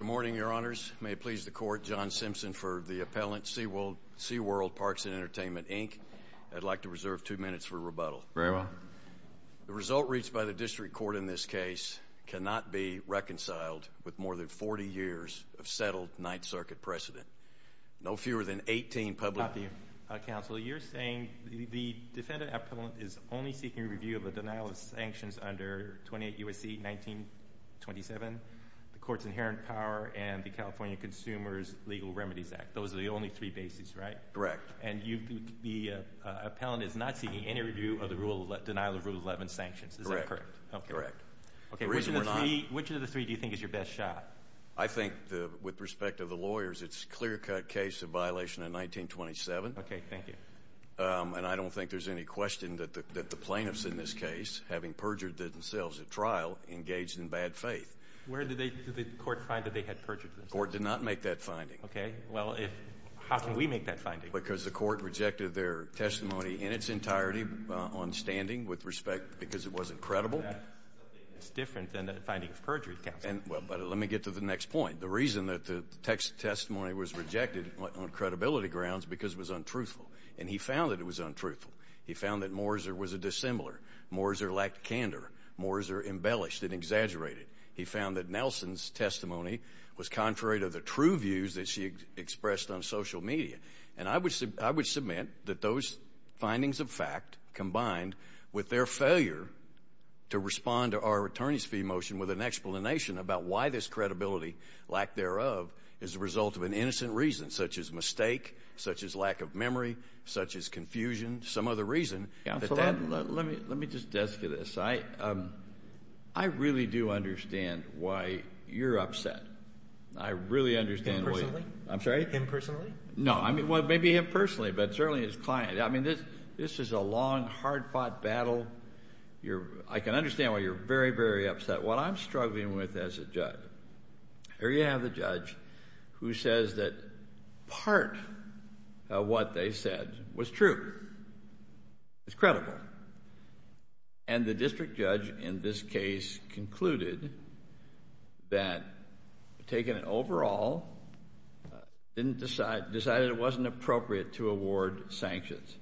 Good morning, your honors. May it please the court, John Simpson for the appellant, Seaworld Parks & Entertainment, Inc. I'd like to reserve two minutes for rebuttal. Very well. The result reached by the district court in this case cannot be reconciled with more than 40 years of settled Ninth Circuit precedent. No fewer than 18 public... and the California Consumers Legal Remedies Act. Those are the only three bases, right? Correct. And the appellant is not seeking any review of the rule of...denial of Rule 11 sanctions. Is that correct? Correct. Okay, which of the three do you think is your best shot? I think, with respect to the lawyers, it's a clear-cut case of violation of 1927. Okay, thank you. And I don't think there's any question that the plaintiffs in this case, having perjured themselves at trial, engaged in bad faith. Where did the court find that they had perjured themselves? The court did not make that finding. Okay, well, if...how can we make that finding? Because the court rejected their testimony in its entirety on standing, with respect...because it wasn't credible. That's something that's different than the finding of perjury, counsel. Well, but let me get to the next point. The reason that the testimony was rejected, on credibility grounds, because it was untruthful. And he found that it was untruthful. He found that Morizer was a dissimilar. Morizer lacked candor. Morizer embellished and exaggerated. He found that Nelson's testimony was contrary to the true views that she expressed on social media. And I would submit that those findings of fact, combined with their failure to respond to our attorney's fee motion with an explanation about why this credibility, lack thereof, is a result of an innocent reason, such as mistake, such as lack of memory, such as confusion, some other reason... Well, let me just desk you this. I really do understand why you're upset. I really understand... Him personally? I'm sorry? Him personally? No, I mean, well, maybe him personally, but certainly his client. I mean, this is a long, hard-fought battle. I can understand why you're very, very upset. What I'm struggling with as a judge...here you have the judge who says that part of what they said was true. It's credible. And the district judge in this case concluded that, taking it overall, decided it wasn't appropriate to award sanctions.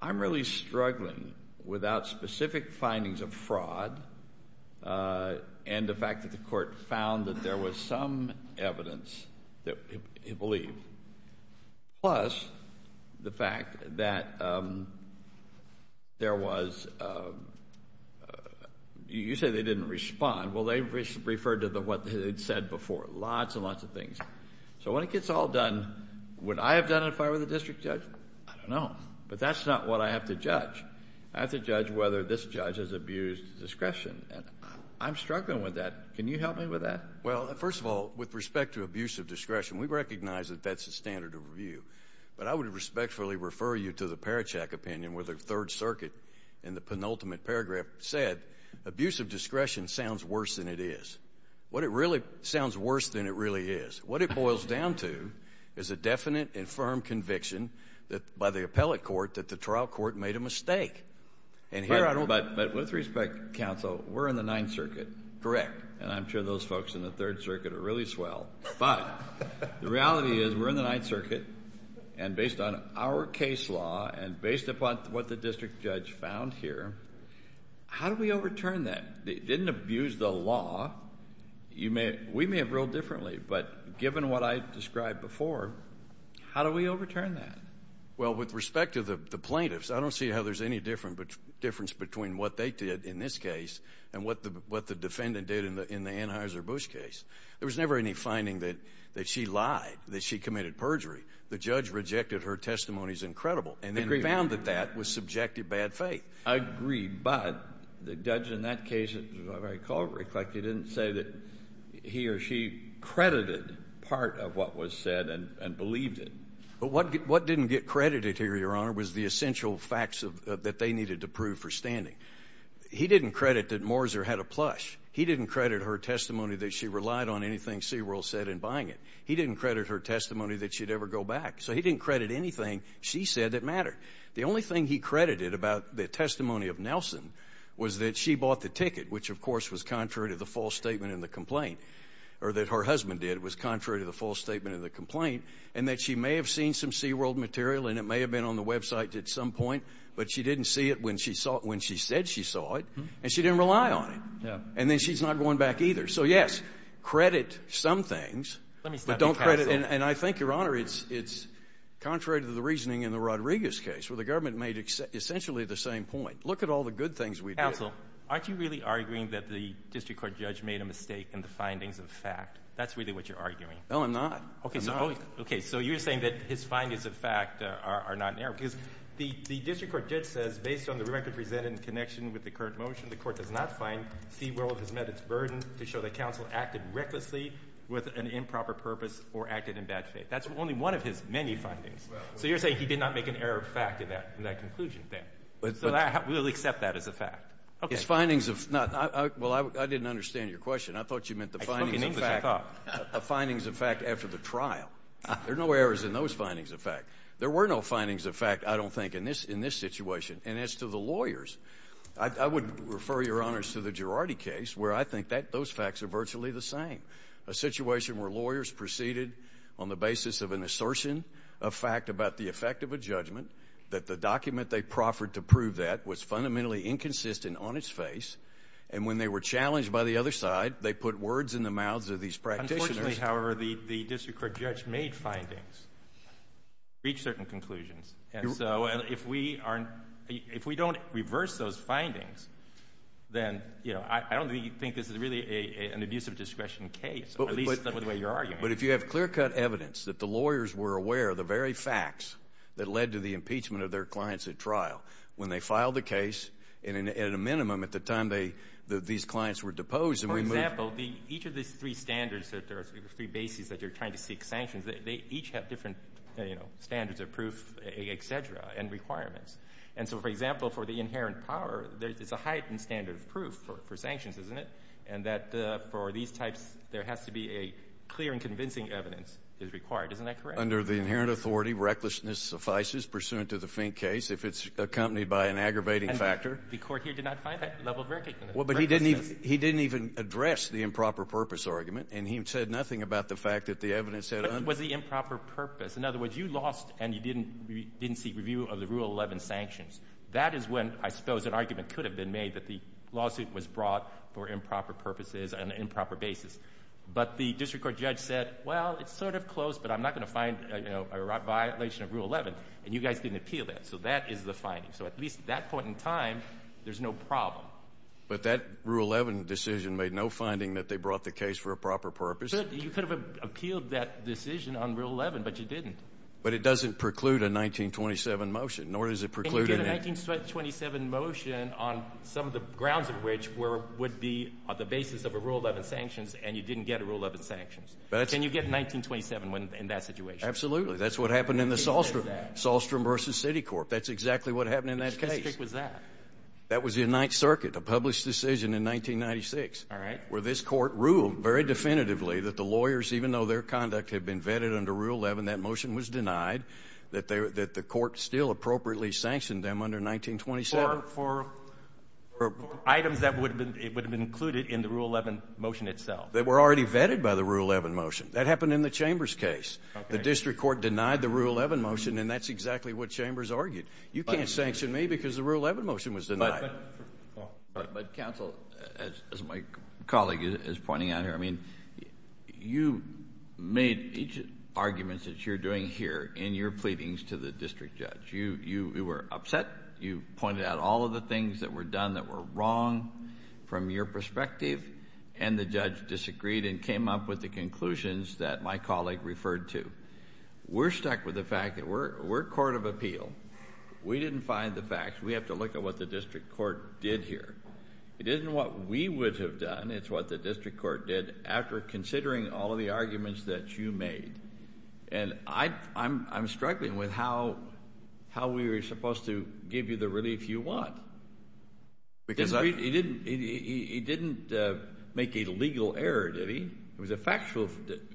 I'm really struggling without specific findings of fraud and the fact that the court found that there was some evidence that he believed, plus the fact that there was...you said they didn't respond. Well, they referred to what they had said before. Lots and lots of things. So when it gets all done, would I have done it if I were the district judge? I don't know. But that's not what I have to judge. I have to judge whether this judge has abused discretion, and I'm struggling with that. Can you help me with that? Well, first of all, with respect to abuse of discretion, we recognize that that's the standard of review. But I would respectfully refer you to the Parachak opinion where the Third Circuit in the penultimate paragraph said, abuse of discretion sounds worse than it is. What it really sounds worse than it really is. What it boils down to is a definite and firm conviction by the appellate court that the trial court made a mistake. But with respect, counsel, we're in the Ninth Circuit. Correct. And I'm sure those folks in the Third Circuit are really swell. But the reality is we're in the Ninth Circuit, and based on our case law and based upon what the district judge found here, how do we overturn that? They didn't abuse the law. We may have ruled differently, but given what I described before, how do we overturn that? Well, with respect to the plaintiffs, I don't see how there's any difference between what they did in this case and what the defendant did in the Anheuser-Busch case. There was never any finding that she lied, that she committed perjury. The judge rejected her testimony as incredible. Agreed. And then found that that was subjective bad faith. Agreed. But the judge in that case, as I recall, reflected, didn't say that he or she credited part of what was said and believed it. But what didn't get credited here, Your Honor, was the essential facts that they needed to prove for standing. He didn't credit that Morizer had a plush. He didn't credit her testimony that she relied on anything Seaworld said in buying it. He didn't credit her testimony that she'd ever go back. So he didn't credit anything she said that mattered. The only thing he credited about the testimony of Nelson was that she bought the ticket, which, of course, was contrary to the false statement in the complaint, or that her husband did, was contrary to the false statement of the complaint, and that she may have seen some Seaworld material, and it may have been on the website at some point, but she didn't see it when she saw it when she said she saw it, and she didn't rely on it. And then she's not going back either. So, yes, credit some things, but don't credit them. And I think, Your Honor, it's contrary to the reasoning in the Rodriguez case, where the government made essentially the same point. Look at all the good things we did. Counsel, aren't you really arguing that the district court judge made a mistake in the findings of fact? That's really what you're arguing. No, I'm not. Okay. So you're saying that his findings of fact are not in error. Because the district court judge says, based on the record presented in connection with the current motion, the court does not find Seaworld has met its burden to show that counsel acted recklessly with an improper purpose or acted in bad faith. That's only one of his many findings. So you're saying he did not make an error of fact in that conclusion then. So we'll accept that as a fact. His findings of not ñ well, I didn't understand your question. I thought you meant the findings of fact after the trial. There are no errors in those findings of fact. There were no findings of fact, I don't think, in this situation. And as to the lawyers, I would refer, Your Honors, to the Girardi case, where I think those facts are virtually the same, a situation where lawyers proceeded on the basis of an assertion of fact about the effect of a judgment, that the document they proffered to prove that was fundamentally inconsistent on its face, and when they were challenged by the other side, they put words in the mouths of these practitioners. Unfortunately, however, the district court judge made findings, reached certain conclusions. And so if we aren't ñ if we don't reverse those findings, then, you know, I don't think this is really an abuse of discretion case, at least not in the way you're arguing. But if you have clear-cut evidence that the lawyers were aware of the very facts that led to the impeachment of their clients at trial, when they filed the case, at a minimum, at the time they ñ these clients were deposed and we moved ñ For example, each of these three standards that there are three bases that you're trying to seek sanctions, they each have different, you know, standards of proof, et cetera, and requirements. And so, for example, for the inherent power, there's a heightened standard of proof for sanctions, isn't it? And that for these types, there has to be a clear and convincing evidence is required. Isn't that correct? Under the inherent authority, recklessness suffices pursuant to the faint case if it's accompanied by an aggravating factor. And the court here did not find that level of recklessness. Well, but he didn't even address the improper purpose argument, and he said nothing about the fact that the evidence had ñ But it was the improper purpose. In other words, you lost and you didn't seek review of the Rule 11 sanctions. That is when, I suppose, an argument could have been made that the lawsuit was brought for improper purposes on an improper basis. But the district court judge said, well, it's sort of close, but I'm not going to find a violation of Rule 11. And you guys didn't appeal that. So that is the finding. So at least at that point in time, there's no problem. But that Rule 11 decision made no finding that they brought the case for a proper purpose. You could have appealed that decision on Rule 11, but you didn't. But it doesn't preclude a 1927 motion, nor does it preclude ñ A 1927 motion on some of the grounds of which would be on the basis of a Rule 11 sanctions, and you didn't get a Rule 11 sanctions. Can you get 1927 in that situation? Absolutely. That's what happened in the Sahlstrom. Sahlstrom v. Citicorp. That's exactly what happened in that case. Which district was that? That was the United Circuit, a published decision in 1996. All right. Where this court ruled very definitively that the lawyers, even though their conduct had been vetted under Rule 11, that motion was denied, that the court still appropriately sanctioned them under 1927. For items that would have been included in the Rule 11 motion itself. They were already vetted by the Rule 11 motion. That happened in the Chambers case. The district court denied the Rule 11 motion, and that's exactly what Chambers argued. You can't sanction me because the Rule 11 motion was denied. But counsel, as my colleague is pointing out here, I mean, you made each argument that you're doing here in your pleadings to the district judge. You were upset. You pointed out all of the things that were done that were wrong from your perspective, and the judge disagreed and came up with the conclusions that my colleague referred to. We're stuck with the fact that we're a court of appeal. We didn't find the facts. We have to look at what the district court did here. It isn't what we would have done. It's what the district court did after considering all of the arguments that you made. And I'm struggling with how we were supposed to give you the relief you want. He didn't make a legal error, did he? It was a factual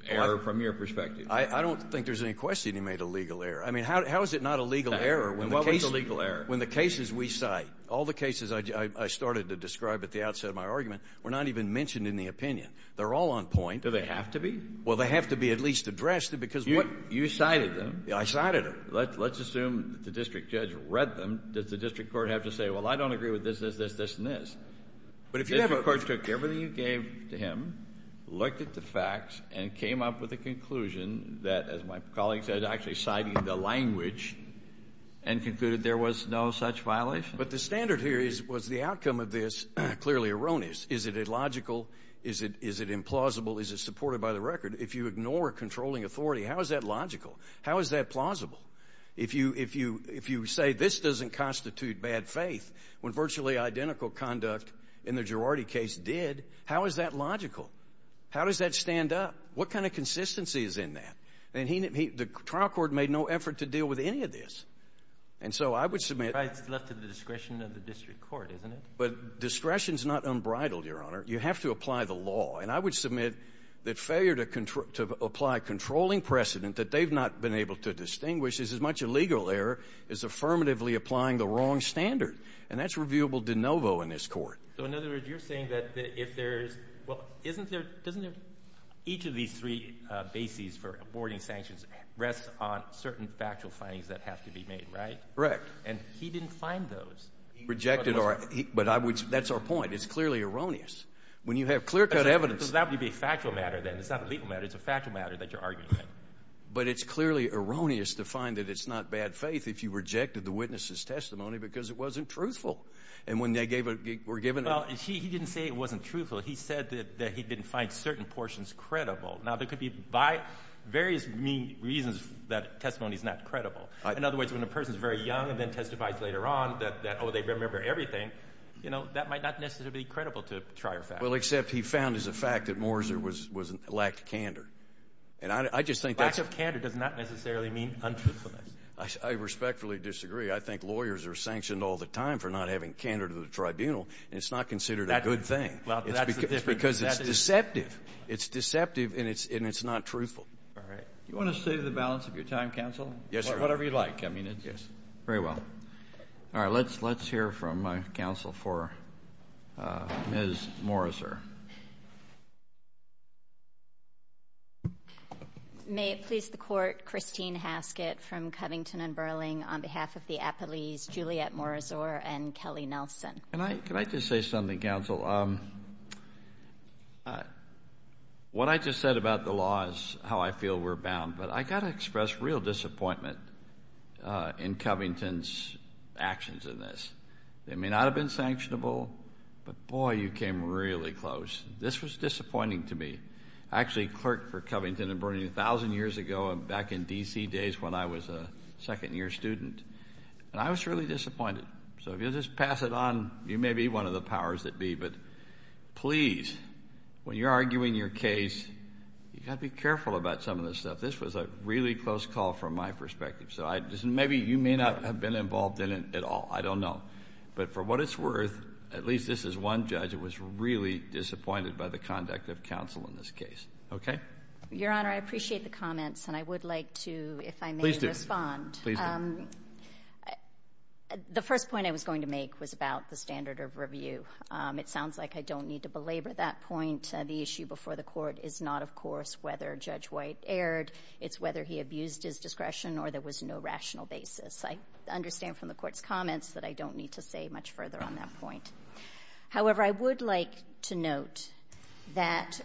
error from your perspective. I don't think there's any question he made a legal error. I mean, how is it not a legal error when the cases we cite, all the cases I started to describe at the outset of my argument, were not even mentioned in the opinion? They're all on point. Do they have to be? Well, they have to be at least addressed because what you cited them. I cited them. Let's assume the district judge read them. Does the district court have to say, well, I don't agree with this, this, this, this, and this? But if you have a court that took everything you gave to him, looked at the facts, and came up with a conclusion that, as my colleague said, actually cited the language and concluded there was no such violation. But the standard here was the outcome of this clearly erroneous. Is it illogical? Is it implausible? Is it supported by the record? If you ignore controlling authority, how is that logical? How is that plausible? If you say this doesn't constitute bad faith when virtually identical conduct in the Girardi case did, how is that logical? How does that stand up? What kind of consistency is in that? And the trial court made no effort to deal with any of this. And so I would submit to the discretion of the district court, isn't it? But discretion is not unbridled, Your Honor. You have to apply the law. And I would submit that failure to apply controlling precedent that they've not been able to distinguish is as much a legal error as affirmatively applying the wrong standard. And that's reviewable de novo in this Court. So, in other words, you're saying that if there's – well, isn't there – doesn't each of these three bases for aborting sanctions rest on certain factual findings that have to be made, right? Correct. And he didn't find those. He rejected our – but I would – that's our point. It's clearly erroneous. When you have clear-cut evidence. So that would be a factual matter then. It's not a legal matter. It's a factual matter that you're arguing. But it's clearly erroneous to find that it's not bad faith if you rejected the witness's testimony because it wasn't truthful. And when they gave – were given – Well, he didn't say it wasn't truthful. He said that he didn't find certain portions credible. Now, there could be various reasons that testimony is not credible. In other words, when a person is very young and then testifies later on that, oh, they remember everything, you know, that might not necessarily be credible to a trier fact. Well, except he found as a fact that Morizer lacked candor. And I just think that's – Lack of candor does not necessarily mean untruthfulness. I respectfully disagree. I think lawyers are sanctioned all the time for not having candor to the tribunal, and it's not considered a good thing. Well, that's the difference. Because it's deceptive. It's deceptive, and it's not truthful. All right. Do you want to save the balance of your time, counsel? Yes, Your Honor. Whatever you'd like. I mean, it's – Yes. Very well. All right. Let's hear from counsel for Ms. Morizer. May it please the Court, Christine Haskett from Covington & Burling, on behalf of the appellees Juliette Morizer and Kelly Nelson. Can I just say something, counsel? What I just said about the law is how I feel we're bound. But I've got to express real disappointment in Covington's actions in this. They may not have been sanctionable, but, boy, you came really close. This was disappointing to me. I actually clerked for Covington & Burling 1,000 years ago back in D.C. days when I was a second-year student. And I was really disappointed. So if you'll just pass it on, you may be one of the powers that be. But please, when you're arguing your case, you've got to be careful about some of this stuff. This was a really close call from my perspective. So maybe you may not have been involved in it at all. I don't know. But for what it's worth, at least this is one judge that was really disappointed by the conduct of counsel in this case. Okay? Your Honor, I appreciate the comments, and I would like to, if I may respond. Please do. Please do. The first point I was going to make was about the standard of review. It sounds like I don't need to belabor that point. The issue before the Court is not, of course, whether Judge White erred. It's whether he abused his discretion or there was no rational basis. I understand from the Court's comments that I don't need to say much further on that point. However, I would like to note that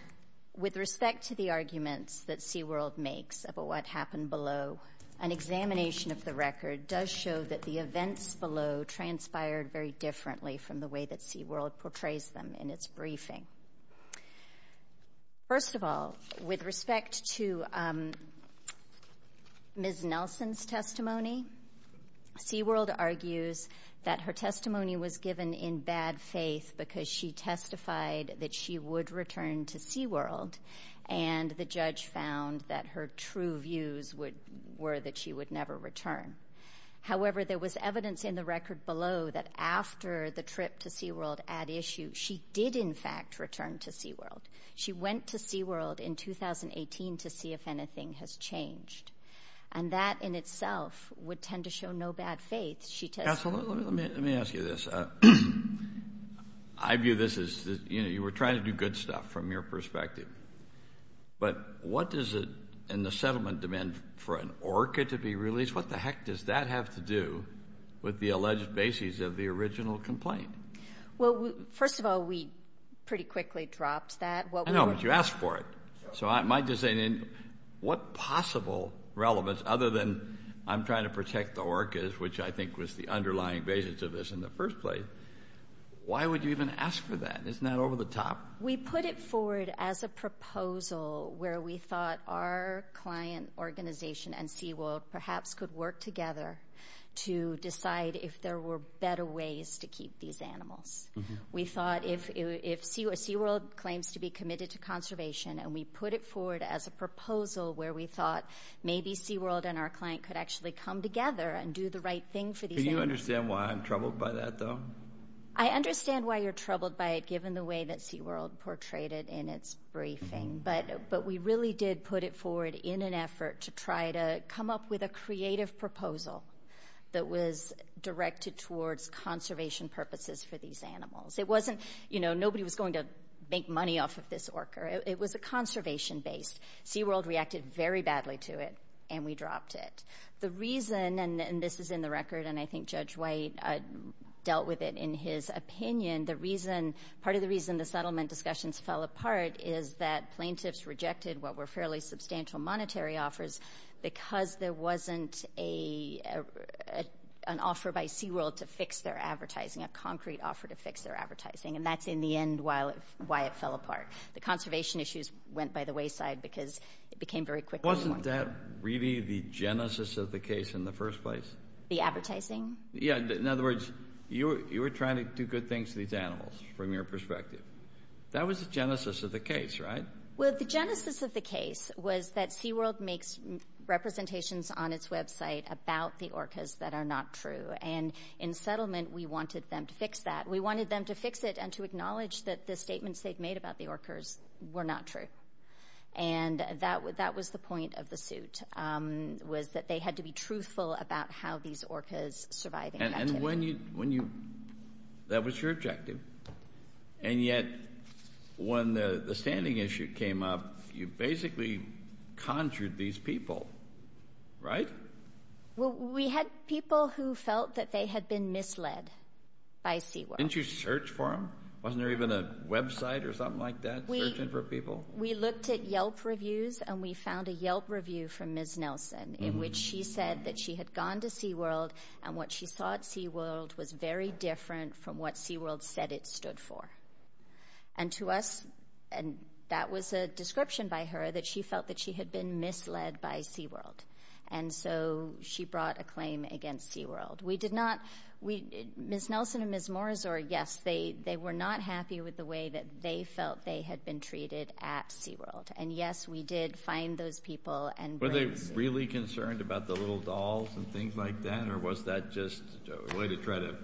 with respect to the arguments that SeaWorld makes about what happened below, an examination of the record does show that the events below transpired very differently from the way that SeaWorld portrays them in its briefing. First of all, with respect to Ms. Nelson's testimony, SeaWorld argues that her testimony was given in bad faith because she testified that she would return to SeaWorld, and the judge found that her true views were that she would never return. However, there was evidence in the record below that after the trip to SeaWorld at issue, she did, in fact, return to SeaWorld. She went to SeaWorld in 2018 to see if anything has changed, and that in itself would tend to show no bad faith. Absolutely. Let me ask you this. I view this as you were trying to do good stuff from your perspective, but what does it in the settlement demand for an ORCA to be released? What the heck does that have to do with the alleged basis of the original complaint? Well, first of all, we pretty quickly dropped that. I know, but you asked for it, so I might just say, what possible relevance other than I'm trying to protect the ORCA's, which I think was the underlying basis of this in the first place, why would you even ask for that? Isn't that over the top? We put it forward as a proposal where we thought our client organization and SeaWorld perhaps could work together to decide if there were better ways to keep these animals. We thought if SeaWorld claims to be committed to conservation, and we put it forward as a proposal where we thought maybe SeaWorld and our client could actually come together and do the right thing for these animals. Can you understand why I'm troubled by that, though? I understand why you're troubled by it, given the way that SeaWorld portrayed it in its briefing, but we really did put it forward in an effort to try to come up with a creative proposal that was directed towards conservation purposes for these animals. It wasn't, you know, nobody was going to make money off of this ORCA. It was a conservation-based. SeaWorld reacted very badly to it, and we dropped it. The reason, and this is in the record, and I think Judge White dealt with it in his opinion, the reason, part of the reason the settlement discussions fell apart is that plaintiffs rejected what were fairly substantial monetary offers because there wasn't an offer by SeaWorld to fix their advertising, a concrete offer to fix their advertising, and that's, in the end, why it fell apart. The conservation issues went by the wayside because it became very quickly formed. Wasn't that really the genesis of the case in the first place? The advertising? Yeah. In other words, you were trying to do good things to these animals from your perspective. That was the genesis of the case, right? Well, the genesis of the case was that SeaWorld makes representations on its website about the ORCAs that are not true, and in settlement, we wanted them to fix that. We wanted them to fix it and to acknowledge that the statements they'd made about the ORCAs were not true, and that was the point of the suit was that they had to be truthful about how these ORCAs survived. And when you, that was your objective, and yet when the standing issue came up, you basically conjured these people, right? Well, we had people who felt that they had been misled by SeaWorld. Didn't you search for them? Wasn't there even a website or something like that searching for people? We looked at Yelp reviews, and we found a Yelp review from Ms. Nelson in which she said that she had gone to SeaWorld and what she saw at SeaWorld was very different from what SeaWorld said it stood for. And to us, that was a description by her that she felt that she had been misled by SeaWorld, and so she brought a claim against SeaWorld. Ms. Nelson and Ms. Morazor, yes, they were not happy with the way that they felt they had been treated at SeaWorld, and yes, we did find those people and bring them to SeaWorld. Were they really concerned about the little dolls and things like that, or was that just a way to try to,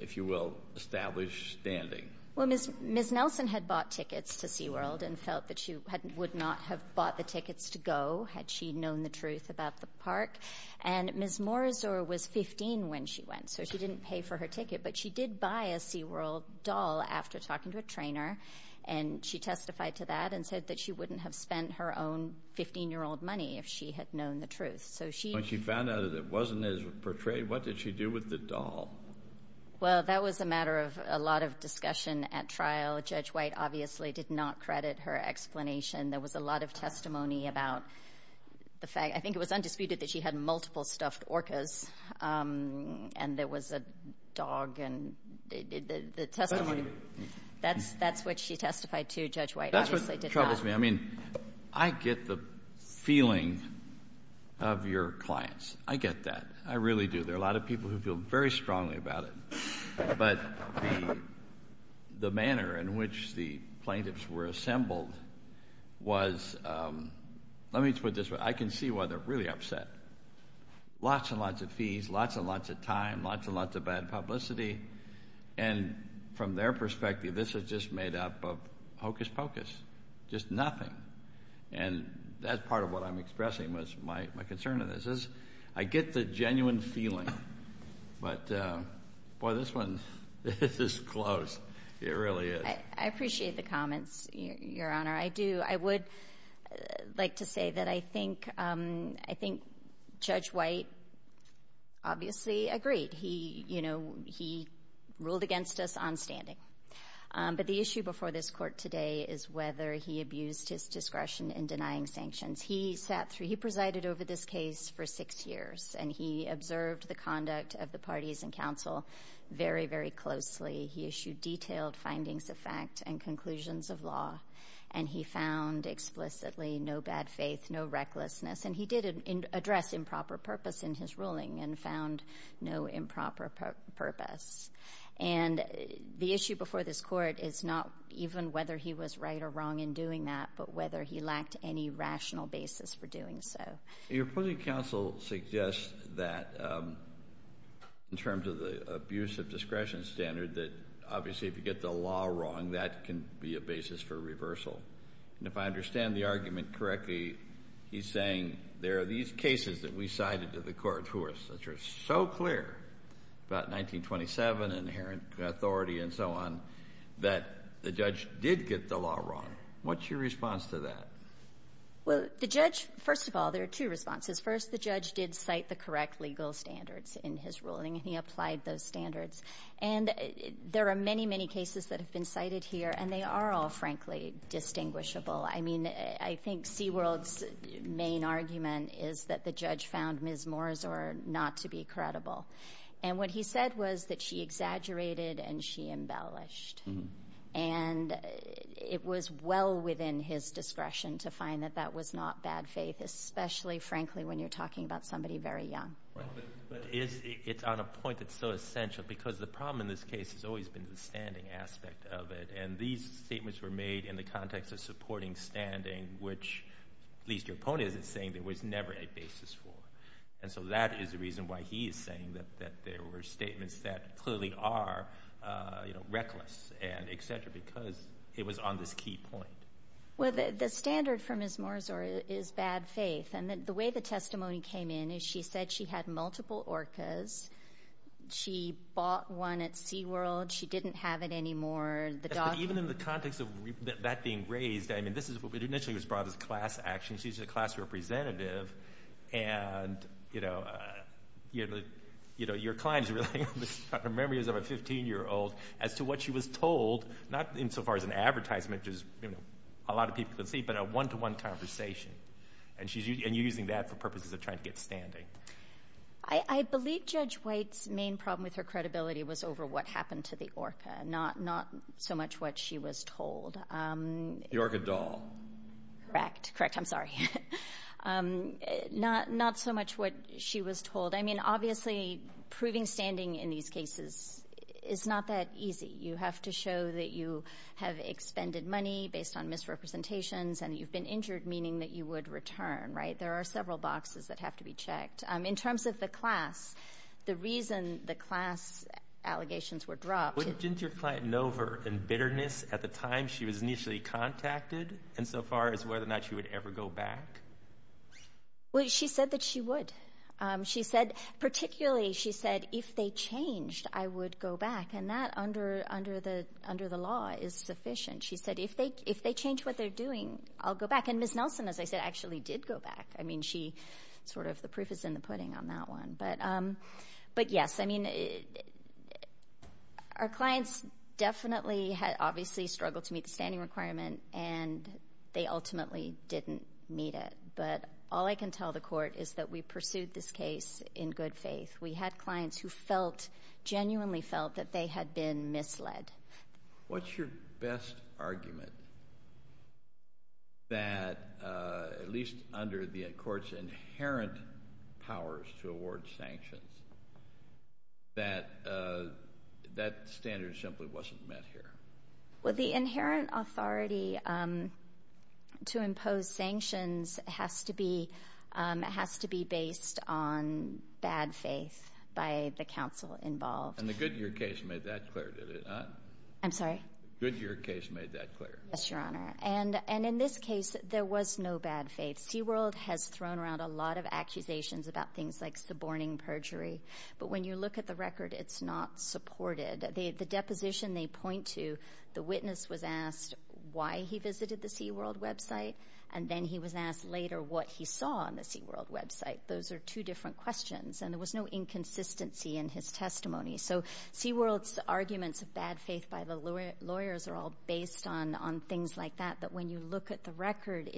if you will, establish standing? Well, Ms. Nelson had bought tickets to SeaWorld and felt that she would not have bought the tickets to go had she known the truth about the park. And Ms. Morazor was 15 when she went, so she didn't pay for her ticket, but she did buy a SeaWorld doll after talking to a trainer, and she testified to that and said that she wouldn't have spent her own 15-year-old money if she had known the truth. When she found out that it wasn't as portrayed, what did she do with the doll? Well, that was a matter of a lot of discussion at trial. Judge White obviously did not credit her explanation. There was a lot of testimony about the fact. I think it was undisputed that she had multiple stuffed orcas, and there was a dog, and the testimony. That's what she testified to. Judge White obviously did not. That's what troubles me. I mean, I get the feeling of your clients. I get that. I really do. There are a lot of people who feel very strongly about it. But the manner in which the plaintiffs were assembled was, let me put it this way. I can see why they're really upset. Lots and lots of fees, lots and lots of time, lots and lots of bad publicity, and from their perspective, this is just made up of hocus-pocus, just nothing. And that's part of what I'm expressing was my concern in this is I get the genuine feeling, but, boy, this is close. It really is. I appreciate the comments, Your Honor. I do. I would like to say that I think Judge White obviously agreed. He ruled against us on standing. But the issue before this court today is whether he abused his discretion in denying sanctions. He sat through, he presided over this case for six years, and he observed the conduct of the parties in counsel very, very closely. He issued detailed findings of fact and conclusions of law, and he found explicitly no bad faith, no recklessness. And he did address improper purpose in his ruling and found no improper purpose. And the issue before this court is not even whether he was right or wrong in doing that, but whether he lacked any rational basis for doing so. Your appointing counsel suggests that in terms of the abuse of discretion standard that, obviously, if you get the law wrong, that can be a basis for reversal. And if I understand the argument correctly, he's saying there are these cases that we cited to the court, which are so clear about 1927 and inherent authority and so on, that the judge did get the law wrong. What's your response to that? Well, the judge, first of all, there are two responses. First, the judge did cite the correct legal standards in his ruling, and he applied those standards. And there are many, many cases that have been cited here, and they are all, frankly, distinguishable. I mean, I think Seaworld's main argument is that the judge found Ms. Morisor not to be credible. And what he said was that she exaggerated and she embellished. And it was well within his discretion to find that that was not bad faith, especially, frankly, when you're talking about somebody very young. But it's on a point that's so essential because the problem in this case has always been the standing aspect of it. And these statements were made in the context of supporting standing, which at least your opponent isn't saying there was never a basis for. And so that is the reason why he is saying that there were statements that clearly are reckless and et cetera, because it was on this key point. Well, the standard for Ms. Morisor is bad faith. And the way the testimony came in is she said she had multiple orcas. She bought one at Seaworld. She didn't have it anymore. Even in the context of that being raised, I mean, this is what initially was brought as class action. She's a class representative. And, you know, your client's really got her memories of a 15-year-old as to what she was told, not insofar as an advertisement, which a lot of people can see, but a one-to-one conversation. And you're using that for purposes of trying to get standing. I believe Judge White's main problem with her credibility was over what happened to the orca, not so much what she was told. The orca doll. Correct. Correct. I'm sorry. Not so much what she was told. I mean, obviously proving standing in these cases is not that easy. You have to show that you have expended money based on misrepresentations and you've been injured, meaning that you would return, right? There are several boxes that have to be checked. In terms of the class, the reason the class allegations were dropped. Didn't your client know of her embitteredness at the time she was initially contacted, insofar as whether or not she would ever go back? Well, she said that she would. Particularly, she said, if they changed, I would go back. And that, under the law, is sufficient. She said, if they change what they're doing, I'll go back. And Ms. Nelson, as I said, actually did go back. I mean, the proof is in the pudding on that one. But, yes, I mean, our clients definitely had obviously struggled to meet the standing requirement, and they ultimately didn't meet it. But all I can tell the court is that we pursued this case in good faith. We had clients who felt, genuinely felt, that they had been misled. What's your best argument that, at least under the court's inherent powers to award sanctions, that that standard simply wasn't met here? Well, the inherent authority to impose sanctions has to be based on bad faith by the counsel involved. And the Goodyear case made that clear, did it not? I'm sorry? The Goodyear case made that clear. Yes, Your Honor. And in this case, there was no bad faith. SeaWorld has thrown around a lot of accusations about things like suborning perjury. But when you look at the record, it's not supported. The deposition they point to, the witness was asked why he visited the SeaWorld website, and then he was asked later what he saw on the SeaWorld website. Those are two different questions, and there was no inconsistency in his testimony. So SeaWorld's arguments of bad faith by the lawyers are all based on things like that. But when you look at the record,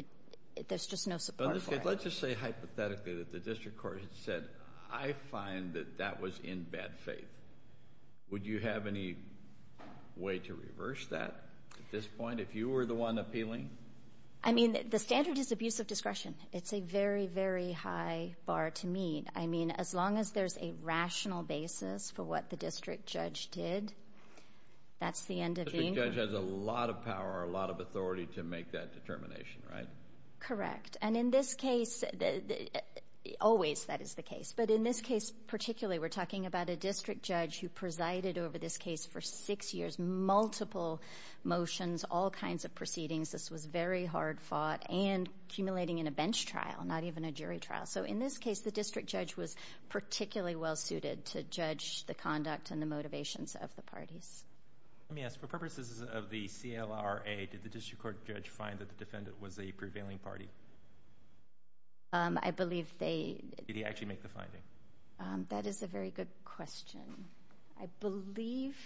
there's just no support for it. Let's just say hypothetically that the district court said, I find that that was in bad faith. Would you have any way to reverse that at this point if you were the one appealing? I mean, the standard is abuse of discretion. It's a very, very high bar to meet. I mean, as long as there's a rational basis for what the district judge did, that's the end of the inquiry. The district judge has a lot of power, a lot of authority to make that determination, right? Correct. And in this case, always that is the case. But in this case particularly, we're talking about a district judge who presided over this case for six years, multiple motions, all kinds of proceedings. This was very hard fought and accumulating in a bench trial, not even a jury trial. So in this case, the district judge was particularly well-suited to judge the conduct and the motivations of the parties. Let me ask, for purposes of the CLRA, did the district court judge find that the defendant was a prevailing party? I believe they did. Did he actually make the finding? That is a very good question. I believe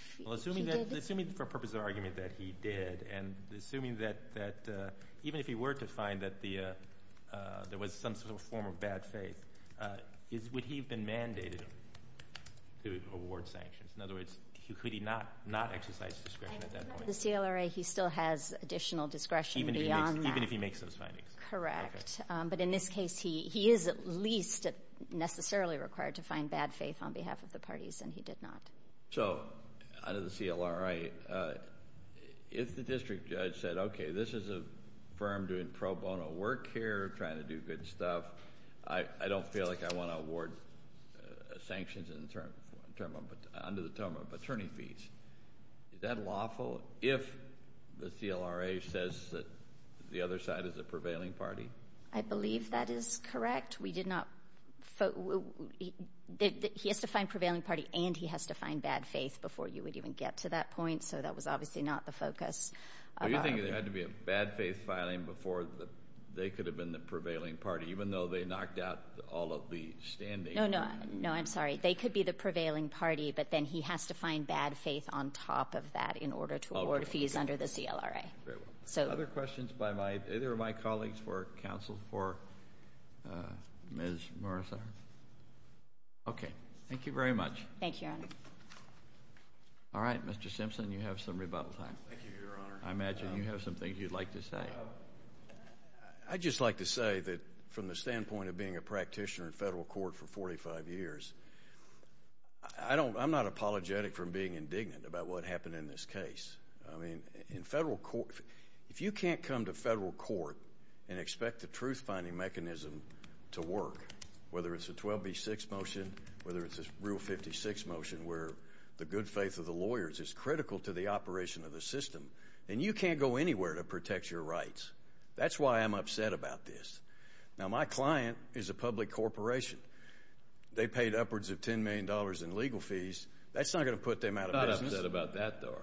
he did. Assuming for purposes of argument that he did and assuming that even if he were to find that there was some form of bad faith, would he have been mandated to award sanctions? In other words, could he not exercise discretion at that point? At the CLRA, he still has additional discretion beyond that. Even if he makes those findings? Correct. But in this case, he is at least necessarily required to find bad faith on behalf of the parties, and he did not. So under the CLRA, if the district judge said, okay, this is a firm doing pro bono work here, trying to do good stuff, I don't feel like I want to award sanctions under the term of attorney fees. Is that lawful if the CLRA says that the other side is a prevailing party? I believe that is correct. He has to find prevailing party and he has to find bad faith before you would even get to that point. So that was obviously not the focus. Are you thinking there had to be a bad faith filing before they could have been the prevailing party, even though they knocked out all of the standing? No, I'm sorry. They could be the prevailing party, but then he has to find bad faith on top of that in order to award fees under the CLRA. Other questions by either of my colleagues for counsel for Ms. Morazar? Okay. Thank you very much. Thank you, Your Honor. All right, Mr. Simpson, you have some rebuttal time. Thank you, Your Honor. I imagine you have some things you'd like to say. I'd just like to say that from the standpoint of being a practitioner in federal court for 45 years, I'm not apologetic for being indignant about what happened in this case. I mean, in federal court, if you can't come to federal court and expect the truth-finding mechanism to work, whether it's a 12B6 motion, whether it's a Rule 56 motion where the good faith of the lawyers is critical to the operation of the system, then you can't go anywhere to protect your rights. That's why I'm upset about this. Now, my client is a public corporation. They paid upwards of $10 million in legal fees. That's not going to put them out of business. I'm upset about that, though.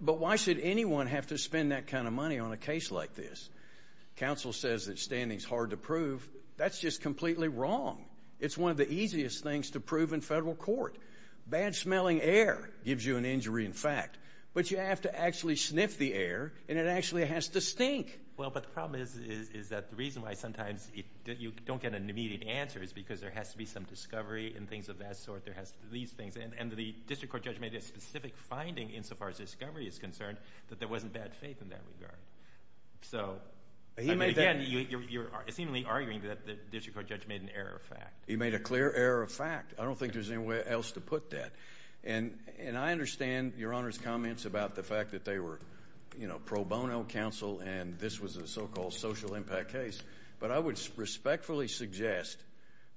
But why should anyone have to spend that kind of money on a case like this? Counsel says that standing is hard to prove. That's just completely wrong. It's one of the easiest things to prove in federal court. Bad smelling air gives you an injury in fact. But you have to actually sniff the air, and it actually has to stink. Well, but the problem is that the reason why sometimes you don't get an immediate answer is because there has to be some discovery and things of that sort. There has to be these things. And the district court judge made a specific finding insofar as discovery is concerned that there wasn't bad faith in that regard. So, again, you're seemingly arguing that the district court judge made an error of fact. He made a clear error of fact. I don't think there's any way else to put that. And I understand Your Honor's comments about the fact that they were pro bono counsel and this was a so-called social impact case. But I would respectfully suggest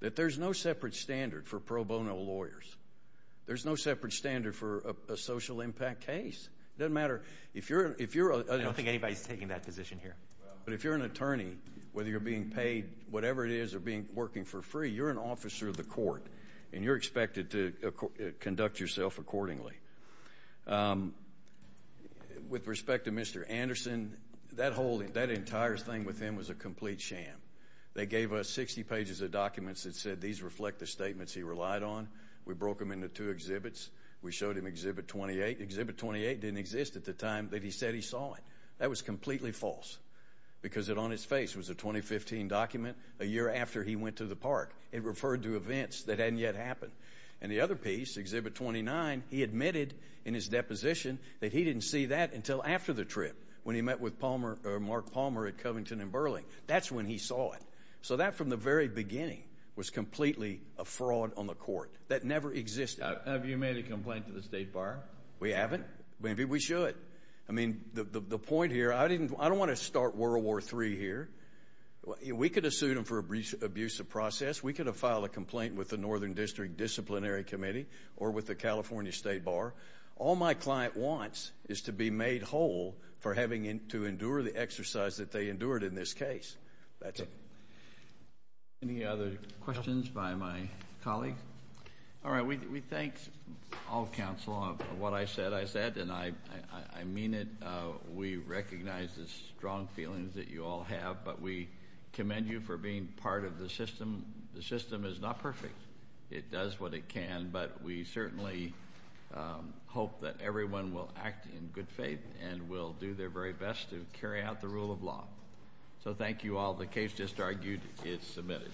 that there's no separate standard for pro bono lawyers. There's no separate standard for a social impact case. It doesn't matter. I don't think anybody's taking that position here. But if you're an attorney, whether you're being paid whatever it is or working for free, you're an officer of the court, and you're expected to conduct yourself accordingly. With respect to Mr. Anderson, that entire thing with him was a complete sham. They gave us 60 pages of documents that said these reflect the statements he relied on. We broke them into two exhibits. We showed him Exhibit 28. Exhibit 28 didn't exist at the time that he said he saw it. That was completely false because it on its face was a 2015 document a year after he went to the park. It referred to events that hadn't yet happened. And the other piece, Exhibit 29, he admitted in his deposition that he didn't see that until after the trip when he met with Mark Palmer at Covington and Burling. That's when he saw it. So that from the very beginning was completely a fraud on the court. That never existed. Have you made a complaint to the State Bar? We haven't. Maybe we should. I mean, the point here, I don't want to start World War III here. We could have sued him for abuse of process. We could have filed a complaint with the Northern District Disciplinary Committee or with the California State Bar. All my client wants is to be made whole for having to endure the exercise that they endured in this case. That's it. Any other questions by my colleagues? All right. We thank all counsel on what I said. I said, and I mean it, we recognize the strong feelings that you all have, but we commend you for being part of the system. The system is not perfect. It does what it can, but we certainly hope that everyone will act in good faith and will do their very best to carry out the rule of law. So thank you all. The case just argued is submitted.